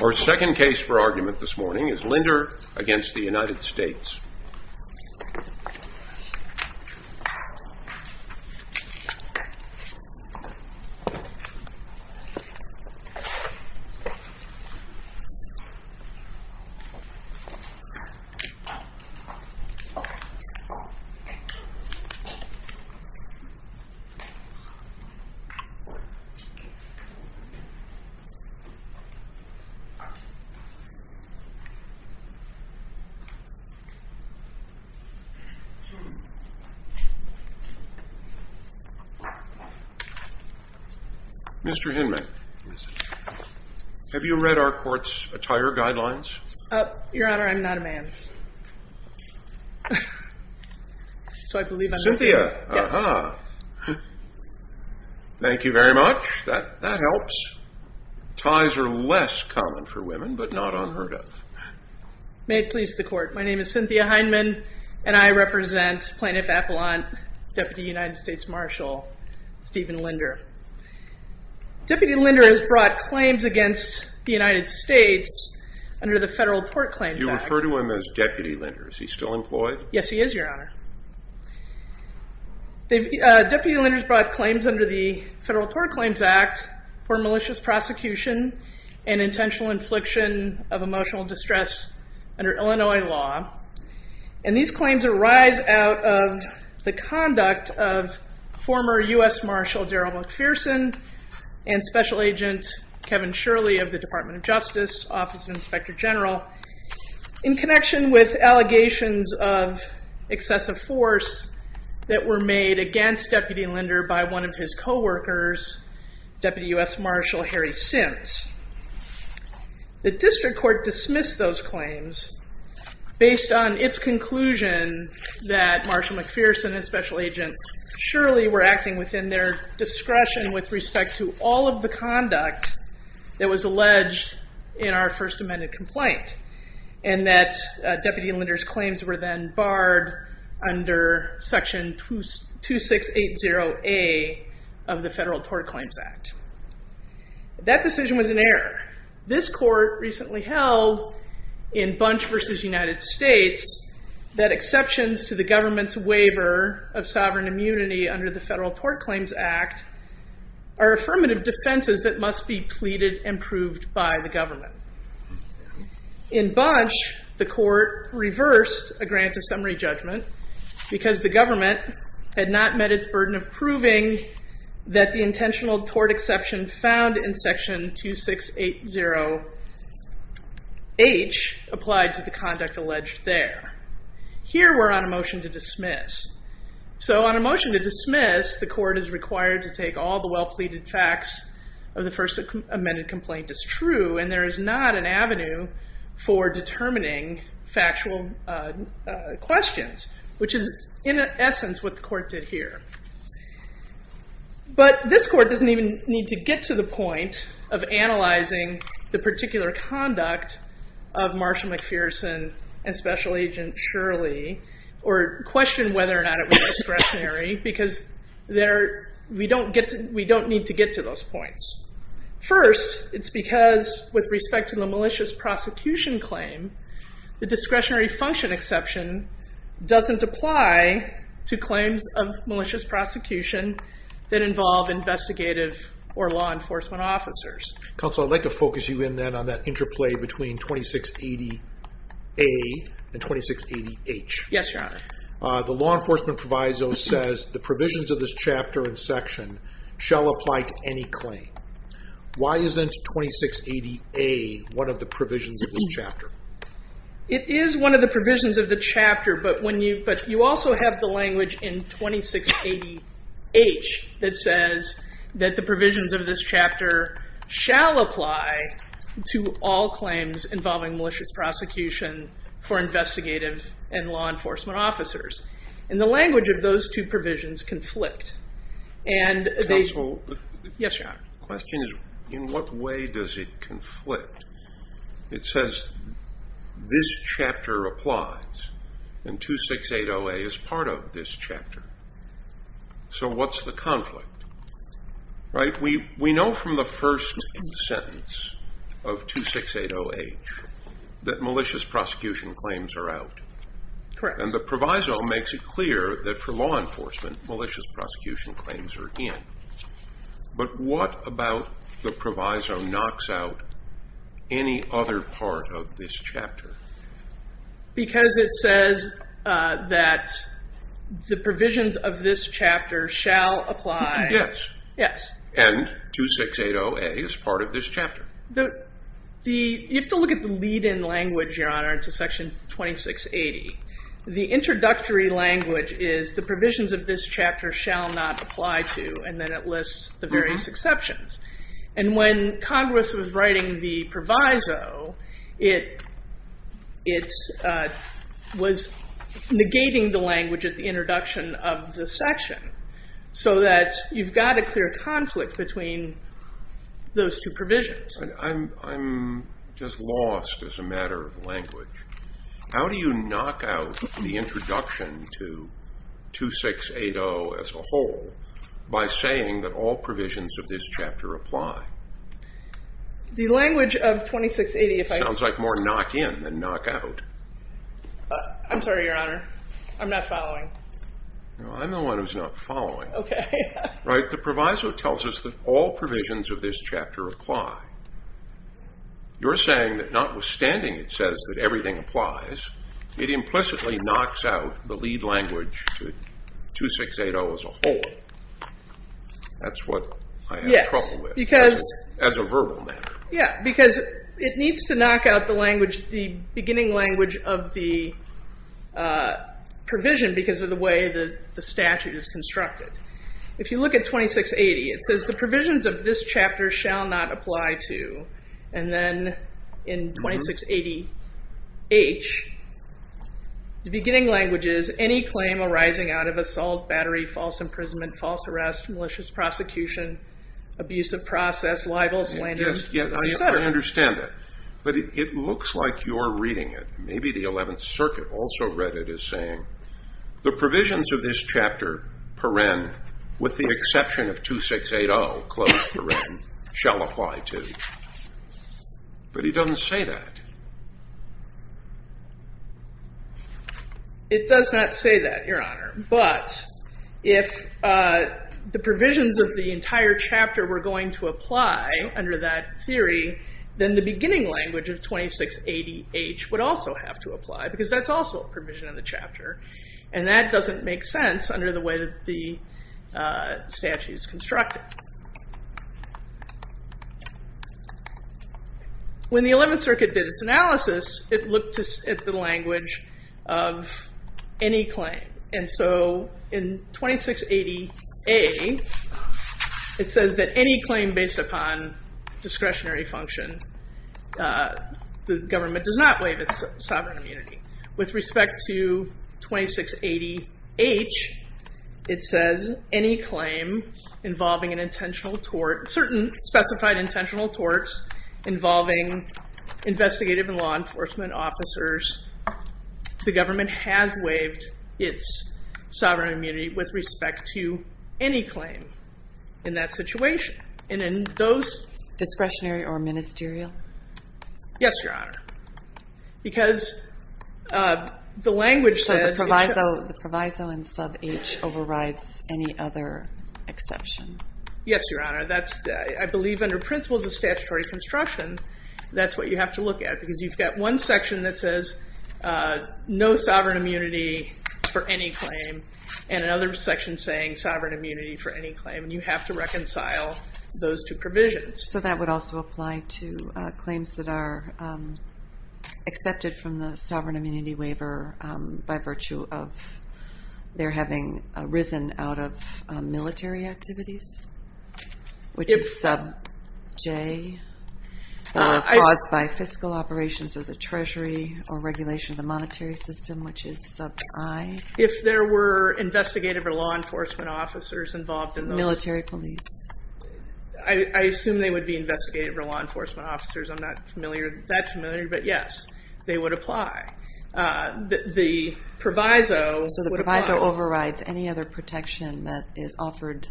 Our second case for argument this morning is Linder v. United States Mr. Hinman, have you read our court's attire guidelines? Your Honor, I'm not a man. Thank you very much. That helps. Ties are less common for women, but not unheard of. May it please the Court. My name is Cynthia Hinman, and I represent Plaintiff Appellant, Deputy United States Marshal Stephen Linder. Deputy Linder has brought claims against the United States under the Federal Tort Claims Act. You refer to him as Deputy Linder. Is he still employed? Yes, he is, Your Honor. Deputy Linder has brought claims under the Federal Tort Claims Act for malicious prosecution and intentional infliction of emotional distress under Illinois law. And these claims arise out of the conduct of former U.S. Marshal Darryl McPherson and Special Agent Kevin Shirley of the Department of Justice Office of Inspector General in connection with allegations of excessive force that were made against Deputy Linder by one of his coworkers, Deputy U.S. Marshal Harry Sims. The District Court dismissed those claims based on its conclusion that Marshall McPherson and Special Agent Shirley were acting within their discretion with respect to all of the conduct that was alleged in our First Amendment complaint, and that Deputy Linder's claims were then barred under Section 2680A of the Federal Tort Claims Act. That decision was an error. This Court recently held in Bunch v. United States that exceptions to the government's waiver of sovereign immunity under the Federal Tort Claims Act are affirmative defenses that must be pleaded and proved by the government. In Bunch, the Court reversed a grant of summary judgment because the government had not met its burden of proving that the intentional tort exception found in Section 2680H applied to the conduct alleged there. Here we're on a motion to dismiss. So on a motion to dismiss, the Court is required to take all the well-pleaded facts of the First Amendment complaint as true, and there is not an avenue for determining factual questions, which is in essence what the Court did here. But this Court doesn't even need to get to the point of analyzing the particular conduct of Marshall McPherson and Special Agent Shirley or question whether or not it was discretionary because we don't need to get to those points. First, it's because with respect to the malicious prosecution claim, the discretionary function exception doesn't apply to claims of malicious prosecution that involve investigative or law enforcement officers. Counsel, I'd like to focus you in then on that interplay between 2680A and 2680H. Yes, Your Honor. The law enforcement proviso says the provisions of this chapter and section shall apply to any claim. Why isn't 2680A one of the provisions of this chapter? It is one of the provisions of the chapter, but you also have the language in 2680H that says that the provisions of this chapter shall apply to all claims involving malicious prosecution for investigative and law enforcement officers. And the language of those two provisions conflict. Counsel? Yes, Your Honor. The question is in what way does it conflict? It says this chapter applies, and 2680A is part of this chapter. So what's the conflict? We know from the first sentence of 2680H that malicious prosecution claims are out. Correct. And the proviso makes it clear that for law enforcement, malicious prosecution claims are in. But what about the proviso knocks out any other part of this chapter? Because it says that the provisions of this chapter shall apply. Yes. Yes. And 2680A is part of this chapter. You have to look at the lead-in language, Your Honor, to section 2680. The introductory language is the provisions of this chapter shall not apply to, and then it lists the various exceptions. And when Congress was writing the proviso, it was negating the language at the introduction of the section so that you've got a clear conflict between those two provisions. I'm just lost as a matter of language. How do you knock out the introduction to 2680 as a whole by saying that all provisions of this chapter apply? The language of 2680, if I could. Sounds like more knock-in than knock-out. I'm sorry, Your Honor. I'm not following. I'm the one who's not following. Okay. Right? The proviso tells us that all provisions of this chapter apply. You're saying that notwithstanding it says that everything applies, it implicitly knocks out the lead language to 2680 as a whole. That's what I have trouble with as a verbal matter. Yeah, because it needs to knock out the beginning language of the provision because of the way the statute is constructed. If you look at 2680, it says the provisions of this chapter shall not apply to, and then in 2680H, the beginning language is any claim arising out of assault, battery, false imprisonment, false arrest, malicious prosecution, abusive process, libel, slander, etc. I understand that, but it looks like you're reading it. Maybe the 11th Circuit also read it as saying, the provisions of this chapter, paren, with the exception of 2680, close paren, shall apply to. But it doesn't say that. It does not say that, Your Honor. But if the provisions of the entire chapter were going to apply under that theory, then the beginning language of 2680H would also have to apply because that's also a provision in the chapter, and that doesn't make sense under the way that the statute is constructed. When the 11th Circuit did its analysis, it looked at the language of any claim. And so in 2680A, it says that any claim based upon discretionary function, the government does not waive its sovereign immunity. With respect to 2680H, it says any claim involving an intentional tort, certain specified intentional torts involving investigative and law enforcement officers, the government has waived its sovereign immunity with respect to any claim in that situation. And in those... Discretionary or ministerial? Yes, Your Honor. Because the language says... So the proviso in sub H overrides any other exception. Yes, Your Honor. I believe under principles of statutory construction, that's what you have to look at. Because you've got one section that says, no sovereign immunity for any claim, and another section saying, sovereign immunity for any claim. And you have to reconcile those two provisions. So that would also apply to claims that are accepted from the sovereign immunity waiver by virtue of their having risen out of military activities, which is sub J, caused by fiscal operations of the Treasury or regulation of the monetary system, which is sub I. If there were investigative or law enforcement officers involved in those... Military police. I assume they would be investigative or law enforcement officers. I'm not that familiar, but yes, they would apply. The proviso... So the proviso overrides any other protection that is offered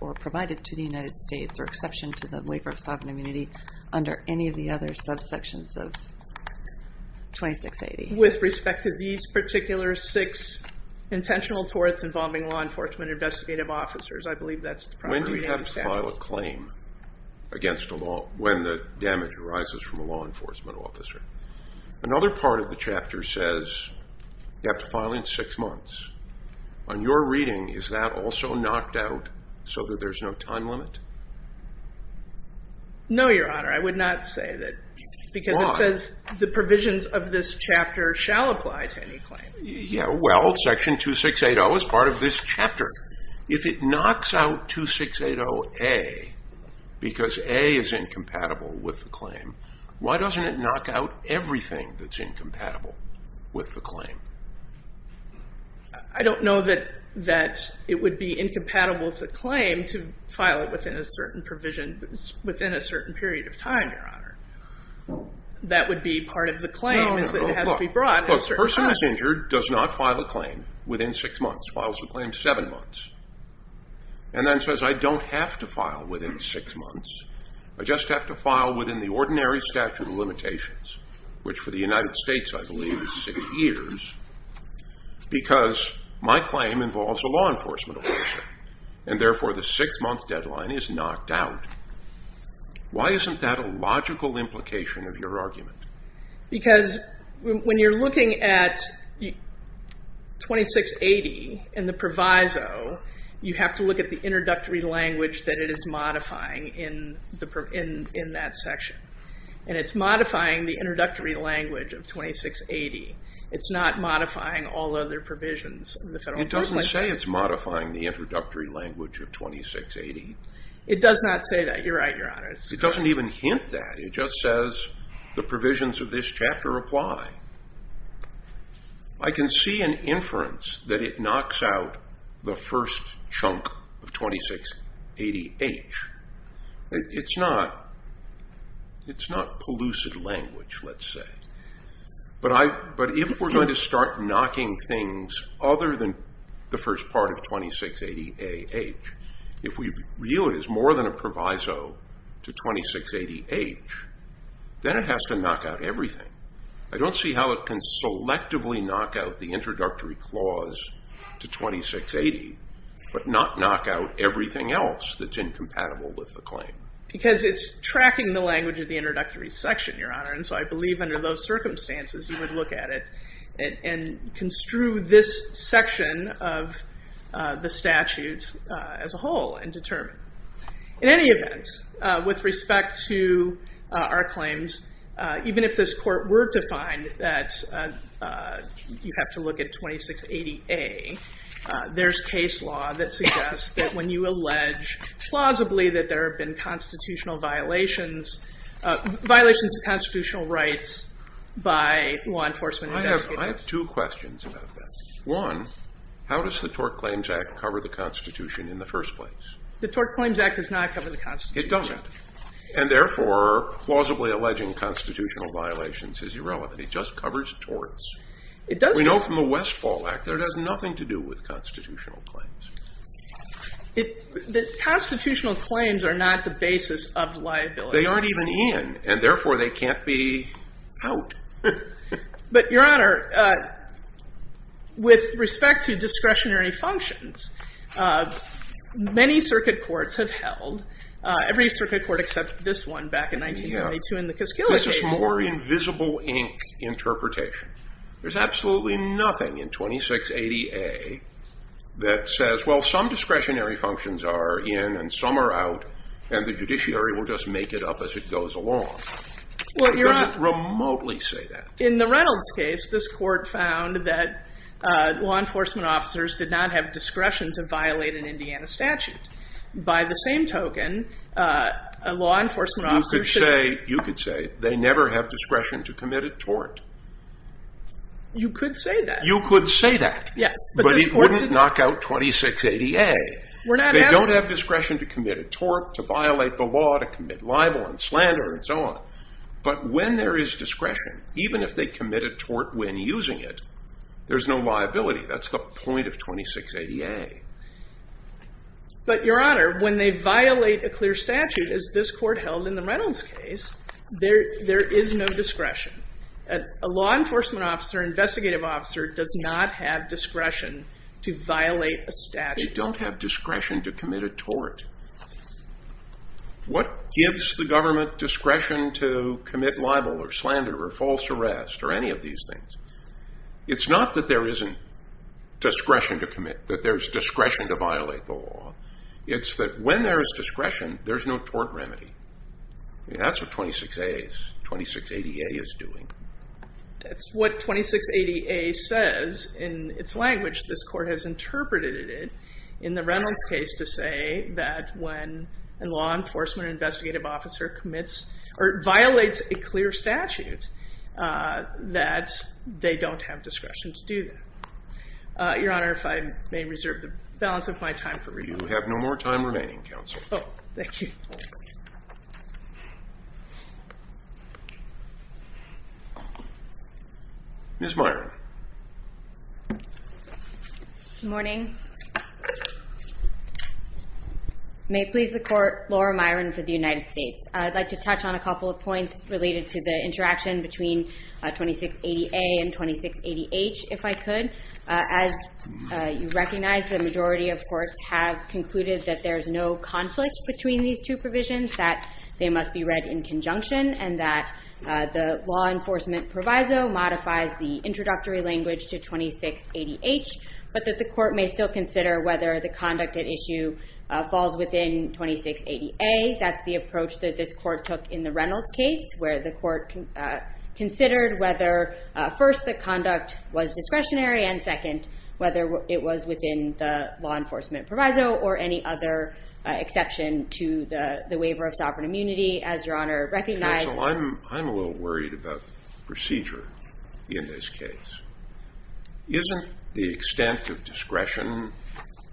or provided to the United States or exception to the waiver of sovereign immunity under any of the other subsections of 2680. With respect to these particular six intentional torts involving law enforcement or investigative officers, I believe that's the proper reading of the statute. When do you have to file a claim against a law... When the damage arises from a law enforcement officer? Another part of the chapter says you have to file in six months. On your reading, is that also knocked out so that there's no time limit? No, Your Honor. I would not say that. Why? Because it says the provisions of this chapter shall apply to any claim. Yeah, well, section 2680 is part of this chapter. If it knocks out 2680A because A is incompatible with the claim, why doesn't it knock out everything that's incompatible with the claim? I don't know that it would be incompatible with the claim to file it within a certain provision, within a certain period of time, Your Honor. That would be part of the claim is that it has to be brought in a certain time. A person who's injured does not file a claim within six months. Files a claim seven months, and then says, I don't have to file within six months. I just have to file within the ordinary statute of limitations, which for the United States, I believe, is six years, because my claim involves a law enforcement officer, and therefore the six-month deadline is knocked out. Why isn't that a logical implication of your argument? Because when you're looking at 2680 in the proviso, you have to look at the introductory language that it is modifying in that section, and it's modifying the introductory language of 2680. It's not modifying all other provisions of the federal provision. It doesn't say it's modifying the introductory language of 2680. It does not say that. You're right, Your Honor. It doesn't even hint that. It just says the provisions of this chapter apply. I can see an inference that it knocks out the first chunk of 2680H. It's not pellucid language, let's say, but if we're going to start knocking things other than the first part of 2680AH, if we view it as more than a proviso to 2680H, then it has to knock out everything. I don't see how it can selectively knock out the introductory clause to 2680, but not knock out everything else that's incompatible with the claim. Because it's tracking the language of the introductory section, Your Honor, and so I believe under those circumstances you would look at it and construe this section of the statute as a whole and determine. In any event, with respect to our claims, even if this court were to find that you have to look at 2680A, there's case law that suggests that when you allege plausibly that there have been constitutional violations, violations of constitutional rights by law enforcement investigators. I have two questions about this. One, how does the Tort Claims Act cover the Constitution in the first place? The Tort Claims Act does not cover the Constitution. It doesn't, and therefore, plausibly alleging constitutional violations is irrelevant. It just covers torts. We know from the Westfall Act that it has nothing to do with constitutional claims. Constitutional claims are not the basis of liability. They aren't even in, and therefore they can't be out. But, Your Honor, with respect to discretionary functions, many circuit courts have held, every circuit court except this one back in 1972 in the Kiskill case. This is more invisible ink interpretation. There's absolutely nothing in 2680A that says, well, some discretionary functions are in and some are out, and the judiciary will just make it up as it goes along. It doesn't remotely say that. In the Reynolds case, this court found that law enforcement officers did not have discretion to violate an Indiana statute. By the same token, a law enforcement officer should... You could say they never have discretion to commit a tort. You could say that. You could say that. Yes, but this court... They don't have discretion to commit a tort, to violate the law, to commit libel and slander and so on. But when there is discretion, even if they commit a tort when using it, there's no liability. That's the point of 2680A. But, Your Honor, when they violate a clear statute, as this court held in the Reynolds case, there is no discretion. A law enforcement officer, an investigative officer, does not have discretion to violate a statute. They don't have discretion to commit a tort. What gives the government discretion to commit libel or slander or false arrest or any of these things? It's not that there isn't discretion to commit, that there's discretion to violate the law. It's that when there is discretion, there's no tort remedy. That's what 2680A is doing. That's what 2680A says. In its language, this court has interpreted it in the Reynolds case to say that when a law enforcement or investigative officer commits or violates a clear statute, that they don't have discretion to do that. Your Honor, if I may reserve the balance of my time for review. You have no more time remaining, Counsel. Thank you. Ms. Myron. Good morning. May it please the Court, Laura Myron for the United States. I'd like to touch on a couple of points related to the interaction between 2680A and 2680H, if I could. As you recognize, the majority of courts have concluded that there is no conflict between these two provisions, that they must be read in conjunction, and that the law enforcement proviso modifies the introductory language to 2680H, but that the court may still consider whether the conduct at issue falls within 2680A. That's the approach that this court took in the Reynolds case, where the court considered whether, first, the conduct was discretionary, and second, whether it was within the law enforcement proviso or any other exception to the waiver of sovereign immunity, as Your Honor recognized. Counsel, I'm a little worried about the procedure in this case. Isn't the extent of discretion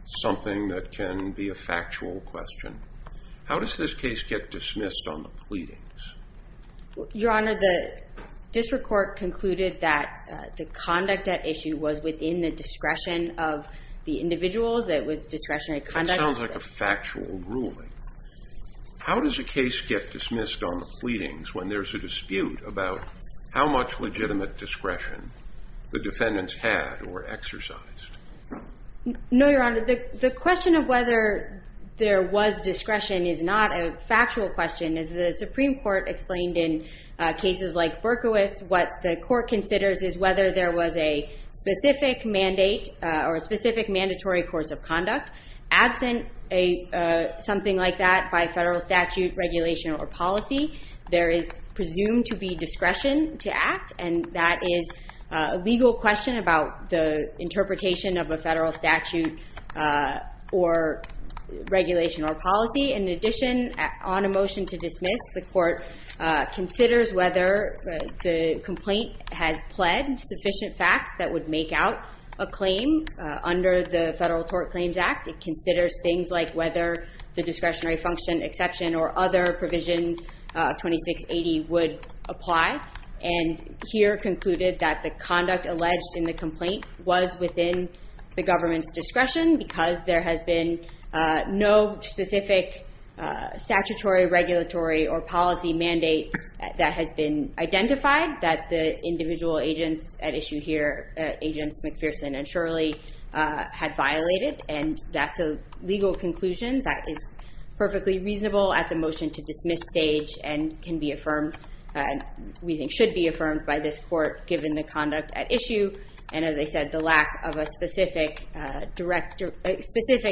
something that can be a factual question? How does this case get dismissed on the pleadings? Your Honor, the district court concluded that the conduct at issue was within the discretion of the individuals, that it was discretionary conduct. That sounds like a factual ruling. How does a case get dismissed on the pleadings when there's a dispute about how much legitimate discretion the defendants had or exercised? No, Your Honor. The question of whether there was discretion is not a factual question. As the Supreme Court explained in cases like Berkowitz, what the court considers is whether there was a specific mandate or a specific mandatory course of conduct. Absent something like that by federal statute, regulation, or policy, there is presumed to be discretion to act, and that is a legal question about the interpretation of a federal statute or regulation or policy. In addition, on a motion to dismiss, the court considers whether the complaint has pled sufficient facts that would make out a claim under the Federal Tort Claims Act. It considers things like whether the discretionary function, exception, or other provisions of 2680 would apply, and here concluded that the conduct alleged in the complaint was within the government's discretion because there has been no specific statutory, regulatory, or policy mandate that has been identified that the individual agents at issue here, Agents McPherson and Shirley, had violated, and that's a legal conclusion that is perfectly reasonable at the motion to dismiss stage and can be affirmed, we think should be affirmed by this court given the conduct at issue, and as I said, the lack of a specific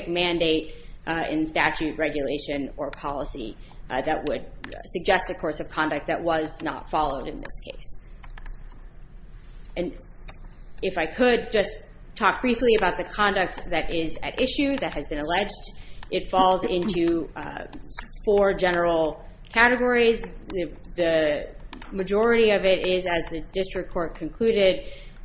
mandate in statute, regulation, or policy that would suggest a course of conduct that was not followed in this case. And if I could just talk briefly about the conduct that is at issue that has been alleged, it falls into four general categories. The majority of it is, as the district court concluded,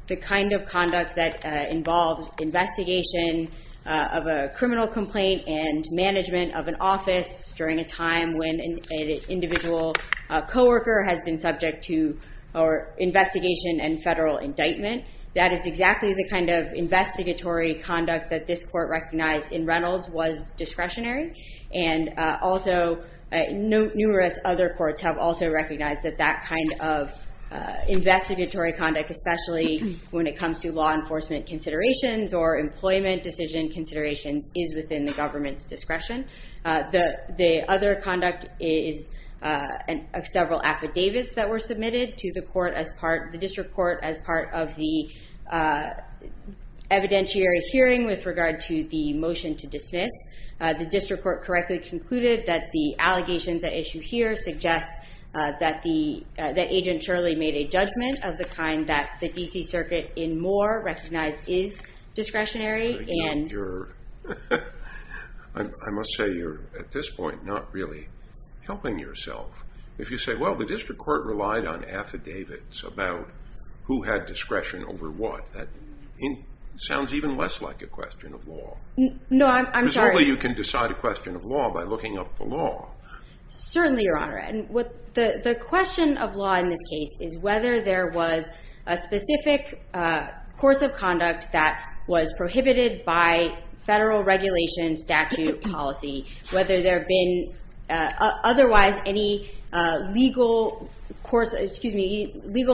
the kind of conduct that involves investigation of a criminal complaint and management of an office during a time when an individual co-worker has been subject to investigation and federal indictment. That is exactly the kind of investigatory conduct that this court recognized in Reynolds was discretionary, and also numerous other courts have also recognized that that kind of investigatory conduct, especially when it comes to law enforcement considerations or employment decision considerations, is within the government's discretion. The other conduct is several affidavits that were submitted to the district court as part of the evidentiary hearing with regard to the motion to dismiss. The district court correctly concluded that the allegations at issue here suggest that Agent Shirley made a judgment of the kind that the D.C. Circuit in Moore recognized is discretionary. I must say you're, at this point, not really helping yourself. If you say, well, the district court relied on affidavits about who had discretion over what, that sounds even less like a question of law. No, I'm sorry. Presumably you can decide a question of law by looking up the law. Certainly, Your Honor. The question of law in this case is whether there was a specific course of conduct that was prohibited by federal regulation statute policy, whether there had been otherwise any legal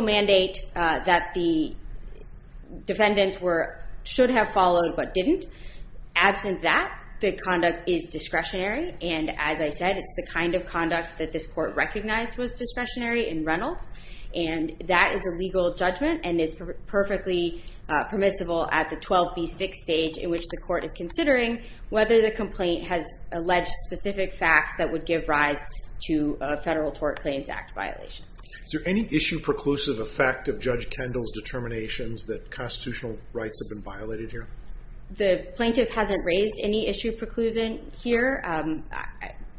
mandate that the defendants should have followed but didn't. Absent that, the conduct is discretionary, and as I said, it's the kind of conduct that this court recognized was discretionary in Reynolds, and that is a legal judgment and is perfectly permissible at the 12B6 stage in which the court is considering whether the complaint has alleged specific facts that would give rise to a Federal Tort Claims Act violation. Is there any issue preclusive effect of Judge Kendall's determinations that constitutional rights have been violated here? The plaintiff hasn't raised any issue preclusion here.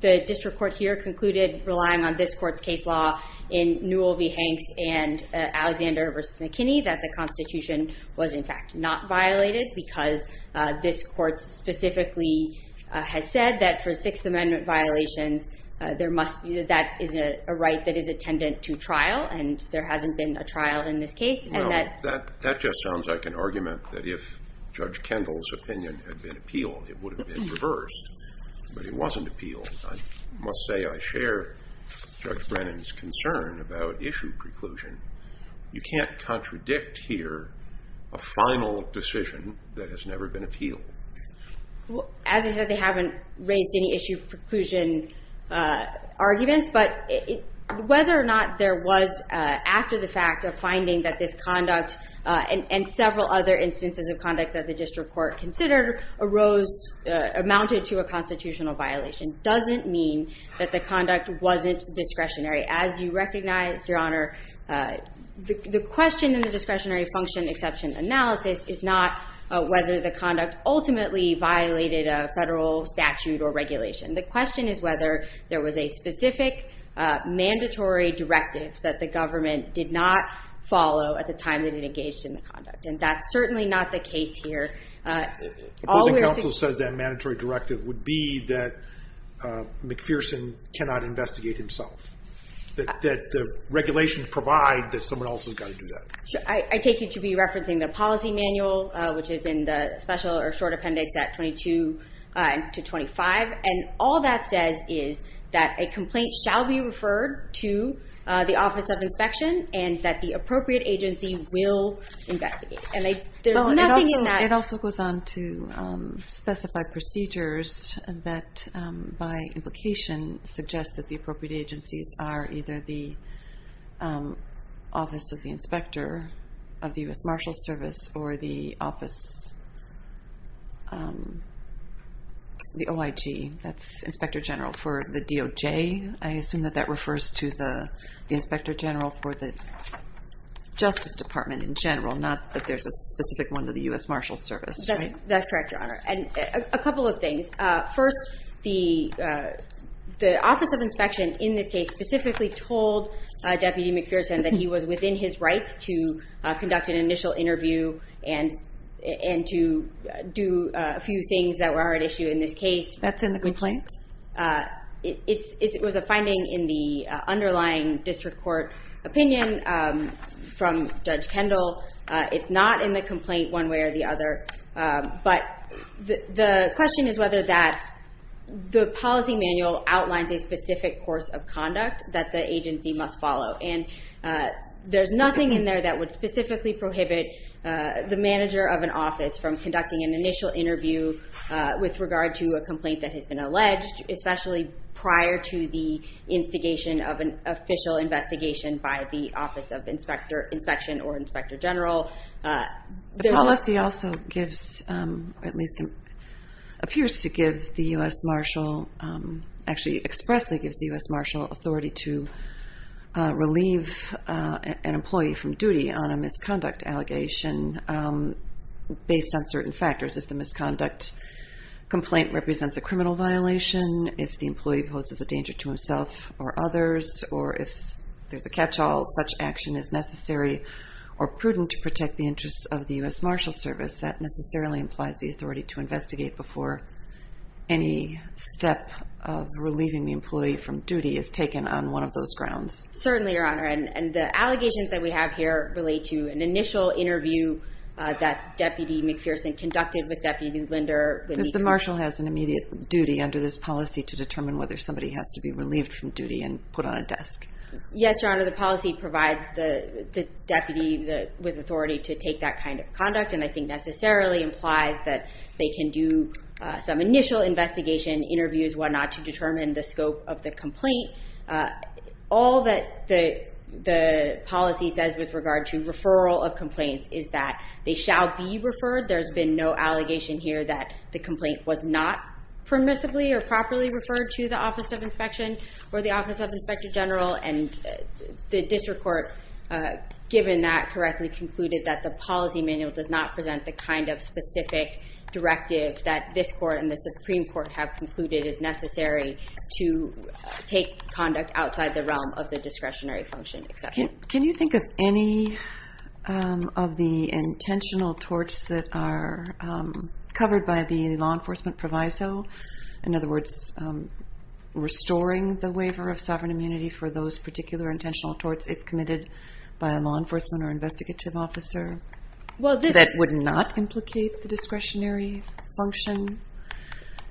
The district court here concluded relying on this court's case law in Newell v. Hanks and Alexander v. McKinney that the Constitution was in fact not violated because this court specifically has said that for Sixth Amendment violations, that is a right that is attendant to trial, and there hasn't been a trial in this case. That just sounds like an argument that if Judge Kendall's opinion had been appealed, it would have been reversed, but it wasn't appealed. I must say I share Judge Brennan's concern about issue preclusion. You can't contradict here a final decision that has never been appealed. As I said, they haven't raised any issue preclusion arguments, but whether or not there was after the fact a finding that this conduct and several other instances of conduct that the district court considered amounted to a constitutional violation doesn't mean that the conduct wasn't discretionary. As you recognized, Your Honor, the question in the discretionary function exception analysis is not whether the conduct ultimately violated a federal statute or regulation. The question is whether there was a specific mandatory directive that the government did not follow at the time that it engaged in the conduct, and that's certainly not the case here. All the counsel says that mandatory directive would be that McPherson cannot investigate himself, that the regulations provide that someone else has got to do that. I take it to be referencing the policy manual, which is in the special or short appendix at 22 to 25, and all that says is that a complaint shall be referred to the Office of Inspection and that the appropriate agency will investigate, and there's nothing in that. It also goes on to specify procedures that, by implication, suggest that the appropriate agencies are either the Office of the Inspector of the U.S. Marshals Service or the OIG, that's Inspector General for the DOJ. I assume that that refers to the Inspector General for the Justice Department in general, not that there's a specific one to the U.S. Marshals Service, right? That's correct, Your Honor, and a couple of things. First, the Office of Inspection in this case specifically told Deputy McPherson that he was within his rights to conduct an initial interview and to do a few things that were at issue in this case. That's in the complaint? It was a finding in the underlying district court opinion from Judge Kendall. It's not in the complaint one way or the other, but the question is whether the policy manual outlines a specific course of conduct that the agency must follow, and there's nothing in there that would specifically prohibit the manager of an office from conducting an initial interview with regard to a complaint that has been alleged, especially prior to the instigation of an official investigation by the Office of Inspection or Inspector General. The policy also gives, or at least appears to give the U.S. Marshal, actually expressly gives the U.S. Marshal authority to relieve an employee from duty on a misconduct allegation based on certain factors. If the misconduct complaint represents a criminal violation, if the employee poses a danger to himself or others, or if there's a catch-all, such action is necessary or prudent to protect the interests of the U.S. Marshal Service. That necessarily implies the authority to investigate before any step of relieving the employee from duty is taken on one of those grounds. Certainly, Your Honor, and the allegations that we have here relate to an initial interview that Deputy McPherson conducted with Deputy Linder. The Marshal has an immediate duty under this policy to determine whether somebody has to be relieved from duty and put on a desk. Yes, Your Honor, the policy provides the deputy with authority to take that kind of conduct, and I think necessarily implies that they can do some initial investigation, interviews, whatnot, to determine the scope of the complaint. All that the policy says with regard to referral of complaints is that they shall be referred. There's been no allegation here that the complaint was not permissibly or properly referred to the Office of Inspection or the Office of Inspector General, and the district court, given that, correctly concluded that the policy manual does not present the kind of specific directive that this court and the Supreme Court have concluded is necessary to take conduct outside the realm of the discretionary function. Can you think of any of the intentional torts that are covered by the law enforcement proviso? In other words, restoring the waiver of sovereign immunity for those particular intentional torts if committed by a law enforcement or investigative officer that would not implicate the discretionary function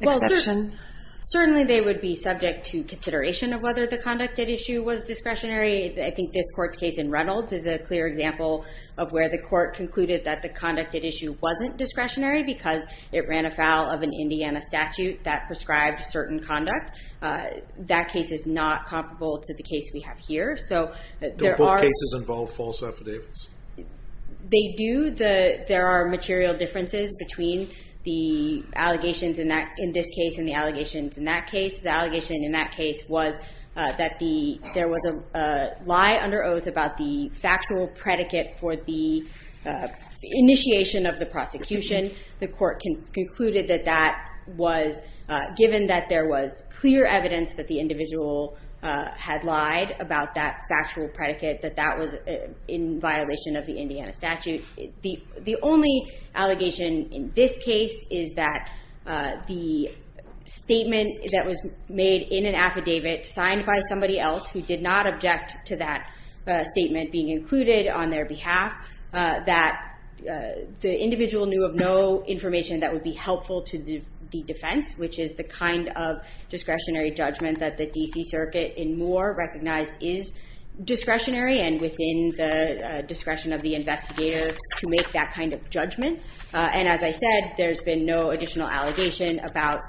exception? Certainly they would be subject to consideration of whether the conducted issue was discretionary. I think this court's case in Reynolds is a clear example of where the court concluded that the conducted issue wasn't discretionary because it ran afoul of an Indiana statute that prescribed certain conduct. That case is not comparable to the case we have here. Do both cases involve false affidavits? They do. There are material differences between the allegations in this case and the allegations in that case. The allegation in that case was that there was a lie under oath about the factual predicate for the initiation of the prosecution. The court concluded that that was given that there was clear evidence that the individual had lied about that factual predicate, that that was in violation of the Indiana statute. The only allegation in this case is that the statement that was made in an affidavit signed by somebody else who did not object to that statement being included on their behalf, that the individual knew of no information that would be helpful to the defense, which is the kind of discretionary judgment that the D.C. Circuit in Moore recognized is discretionary and within the discretion of the investigator to make that kind of judgment. And as I said, there's been no additional allegation about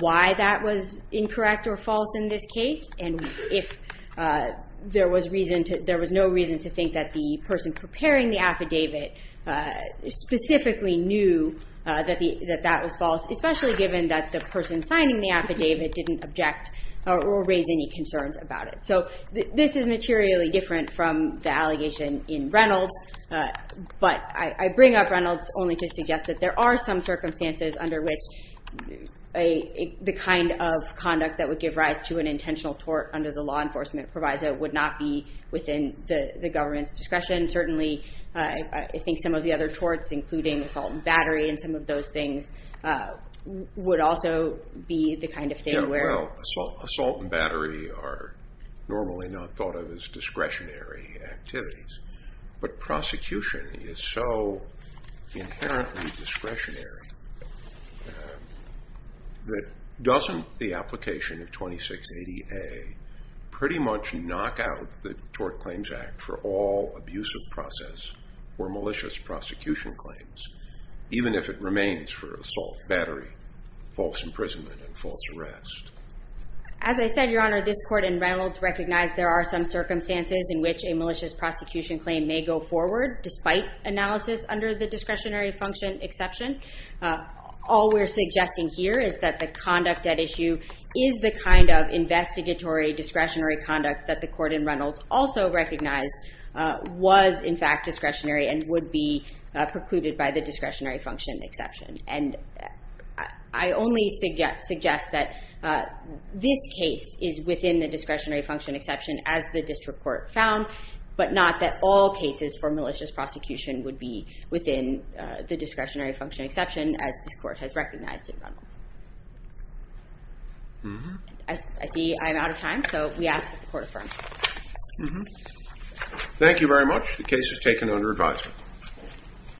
why that was incorrect or false in this case. And there was no reason to think that the person preparing the affidavit specifically knew that that was false, especially given that the person signing the affidavit didn't object or raise any concerns about it. So this is materially different from the allegation in Reynolds, but I bring up Reynolds only to suggest that there are some circumstances under which the kind of conduct that would give rise to an intentional tort under the law enforcement proviso would not be within the government's discretion. Certainly, I think some of the other torts, including assault and battery, and some of those things would also be the kind of thing where- Yeah, well, assault and battery are normally not thought of as discretionary activities, but prosecution is so inherently discretionary that doesn't the application of 2680A pretty much knock out the Tort Claims Act for all abusive process or malicious prosecution claims, even if it remains for assault, battery, false imprisonment, and false arrest? As I said, Your Honor, this court in Reynolds recognized there are some circumstances in which a malicious prosecution claim may go forward, despite analysis under the discretionary function exception. All we're suggesting here is that the conduct at issue is the kind of investigatory discretionary conduct that the court in Reynolds also recognized was, in fact, discretionary and would be precluded by the discretionary function exception. I only suggest that this case is within the discretionary function exception, as the district court found, but not that all cases for malicious prosecution would be within the discretionary function exception, as this court has recognized in Reynolds. I see I'm out of time, so we ask that the court affirm. Thank you very much. The case is taken under advisement.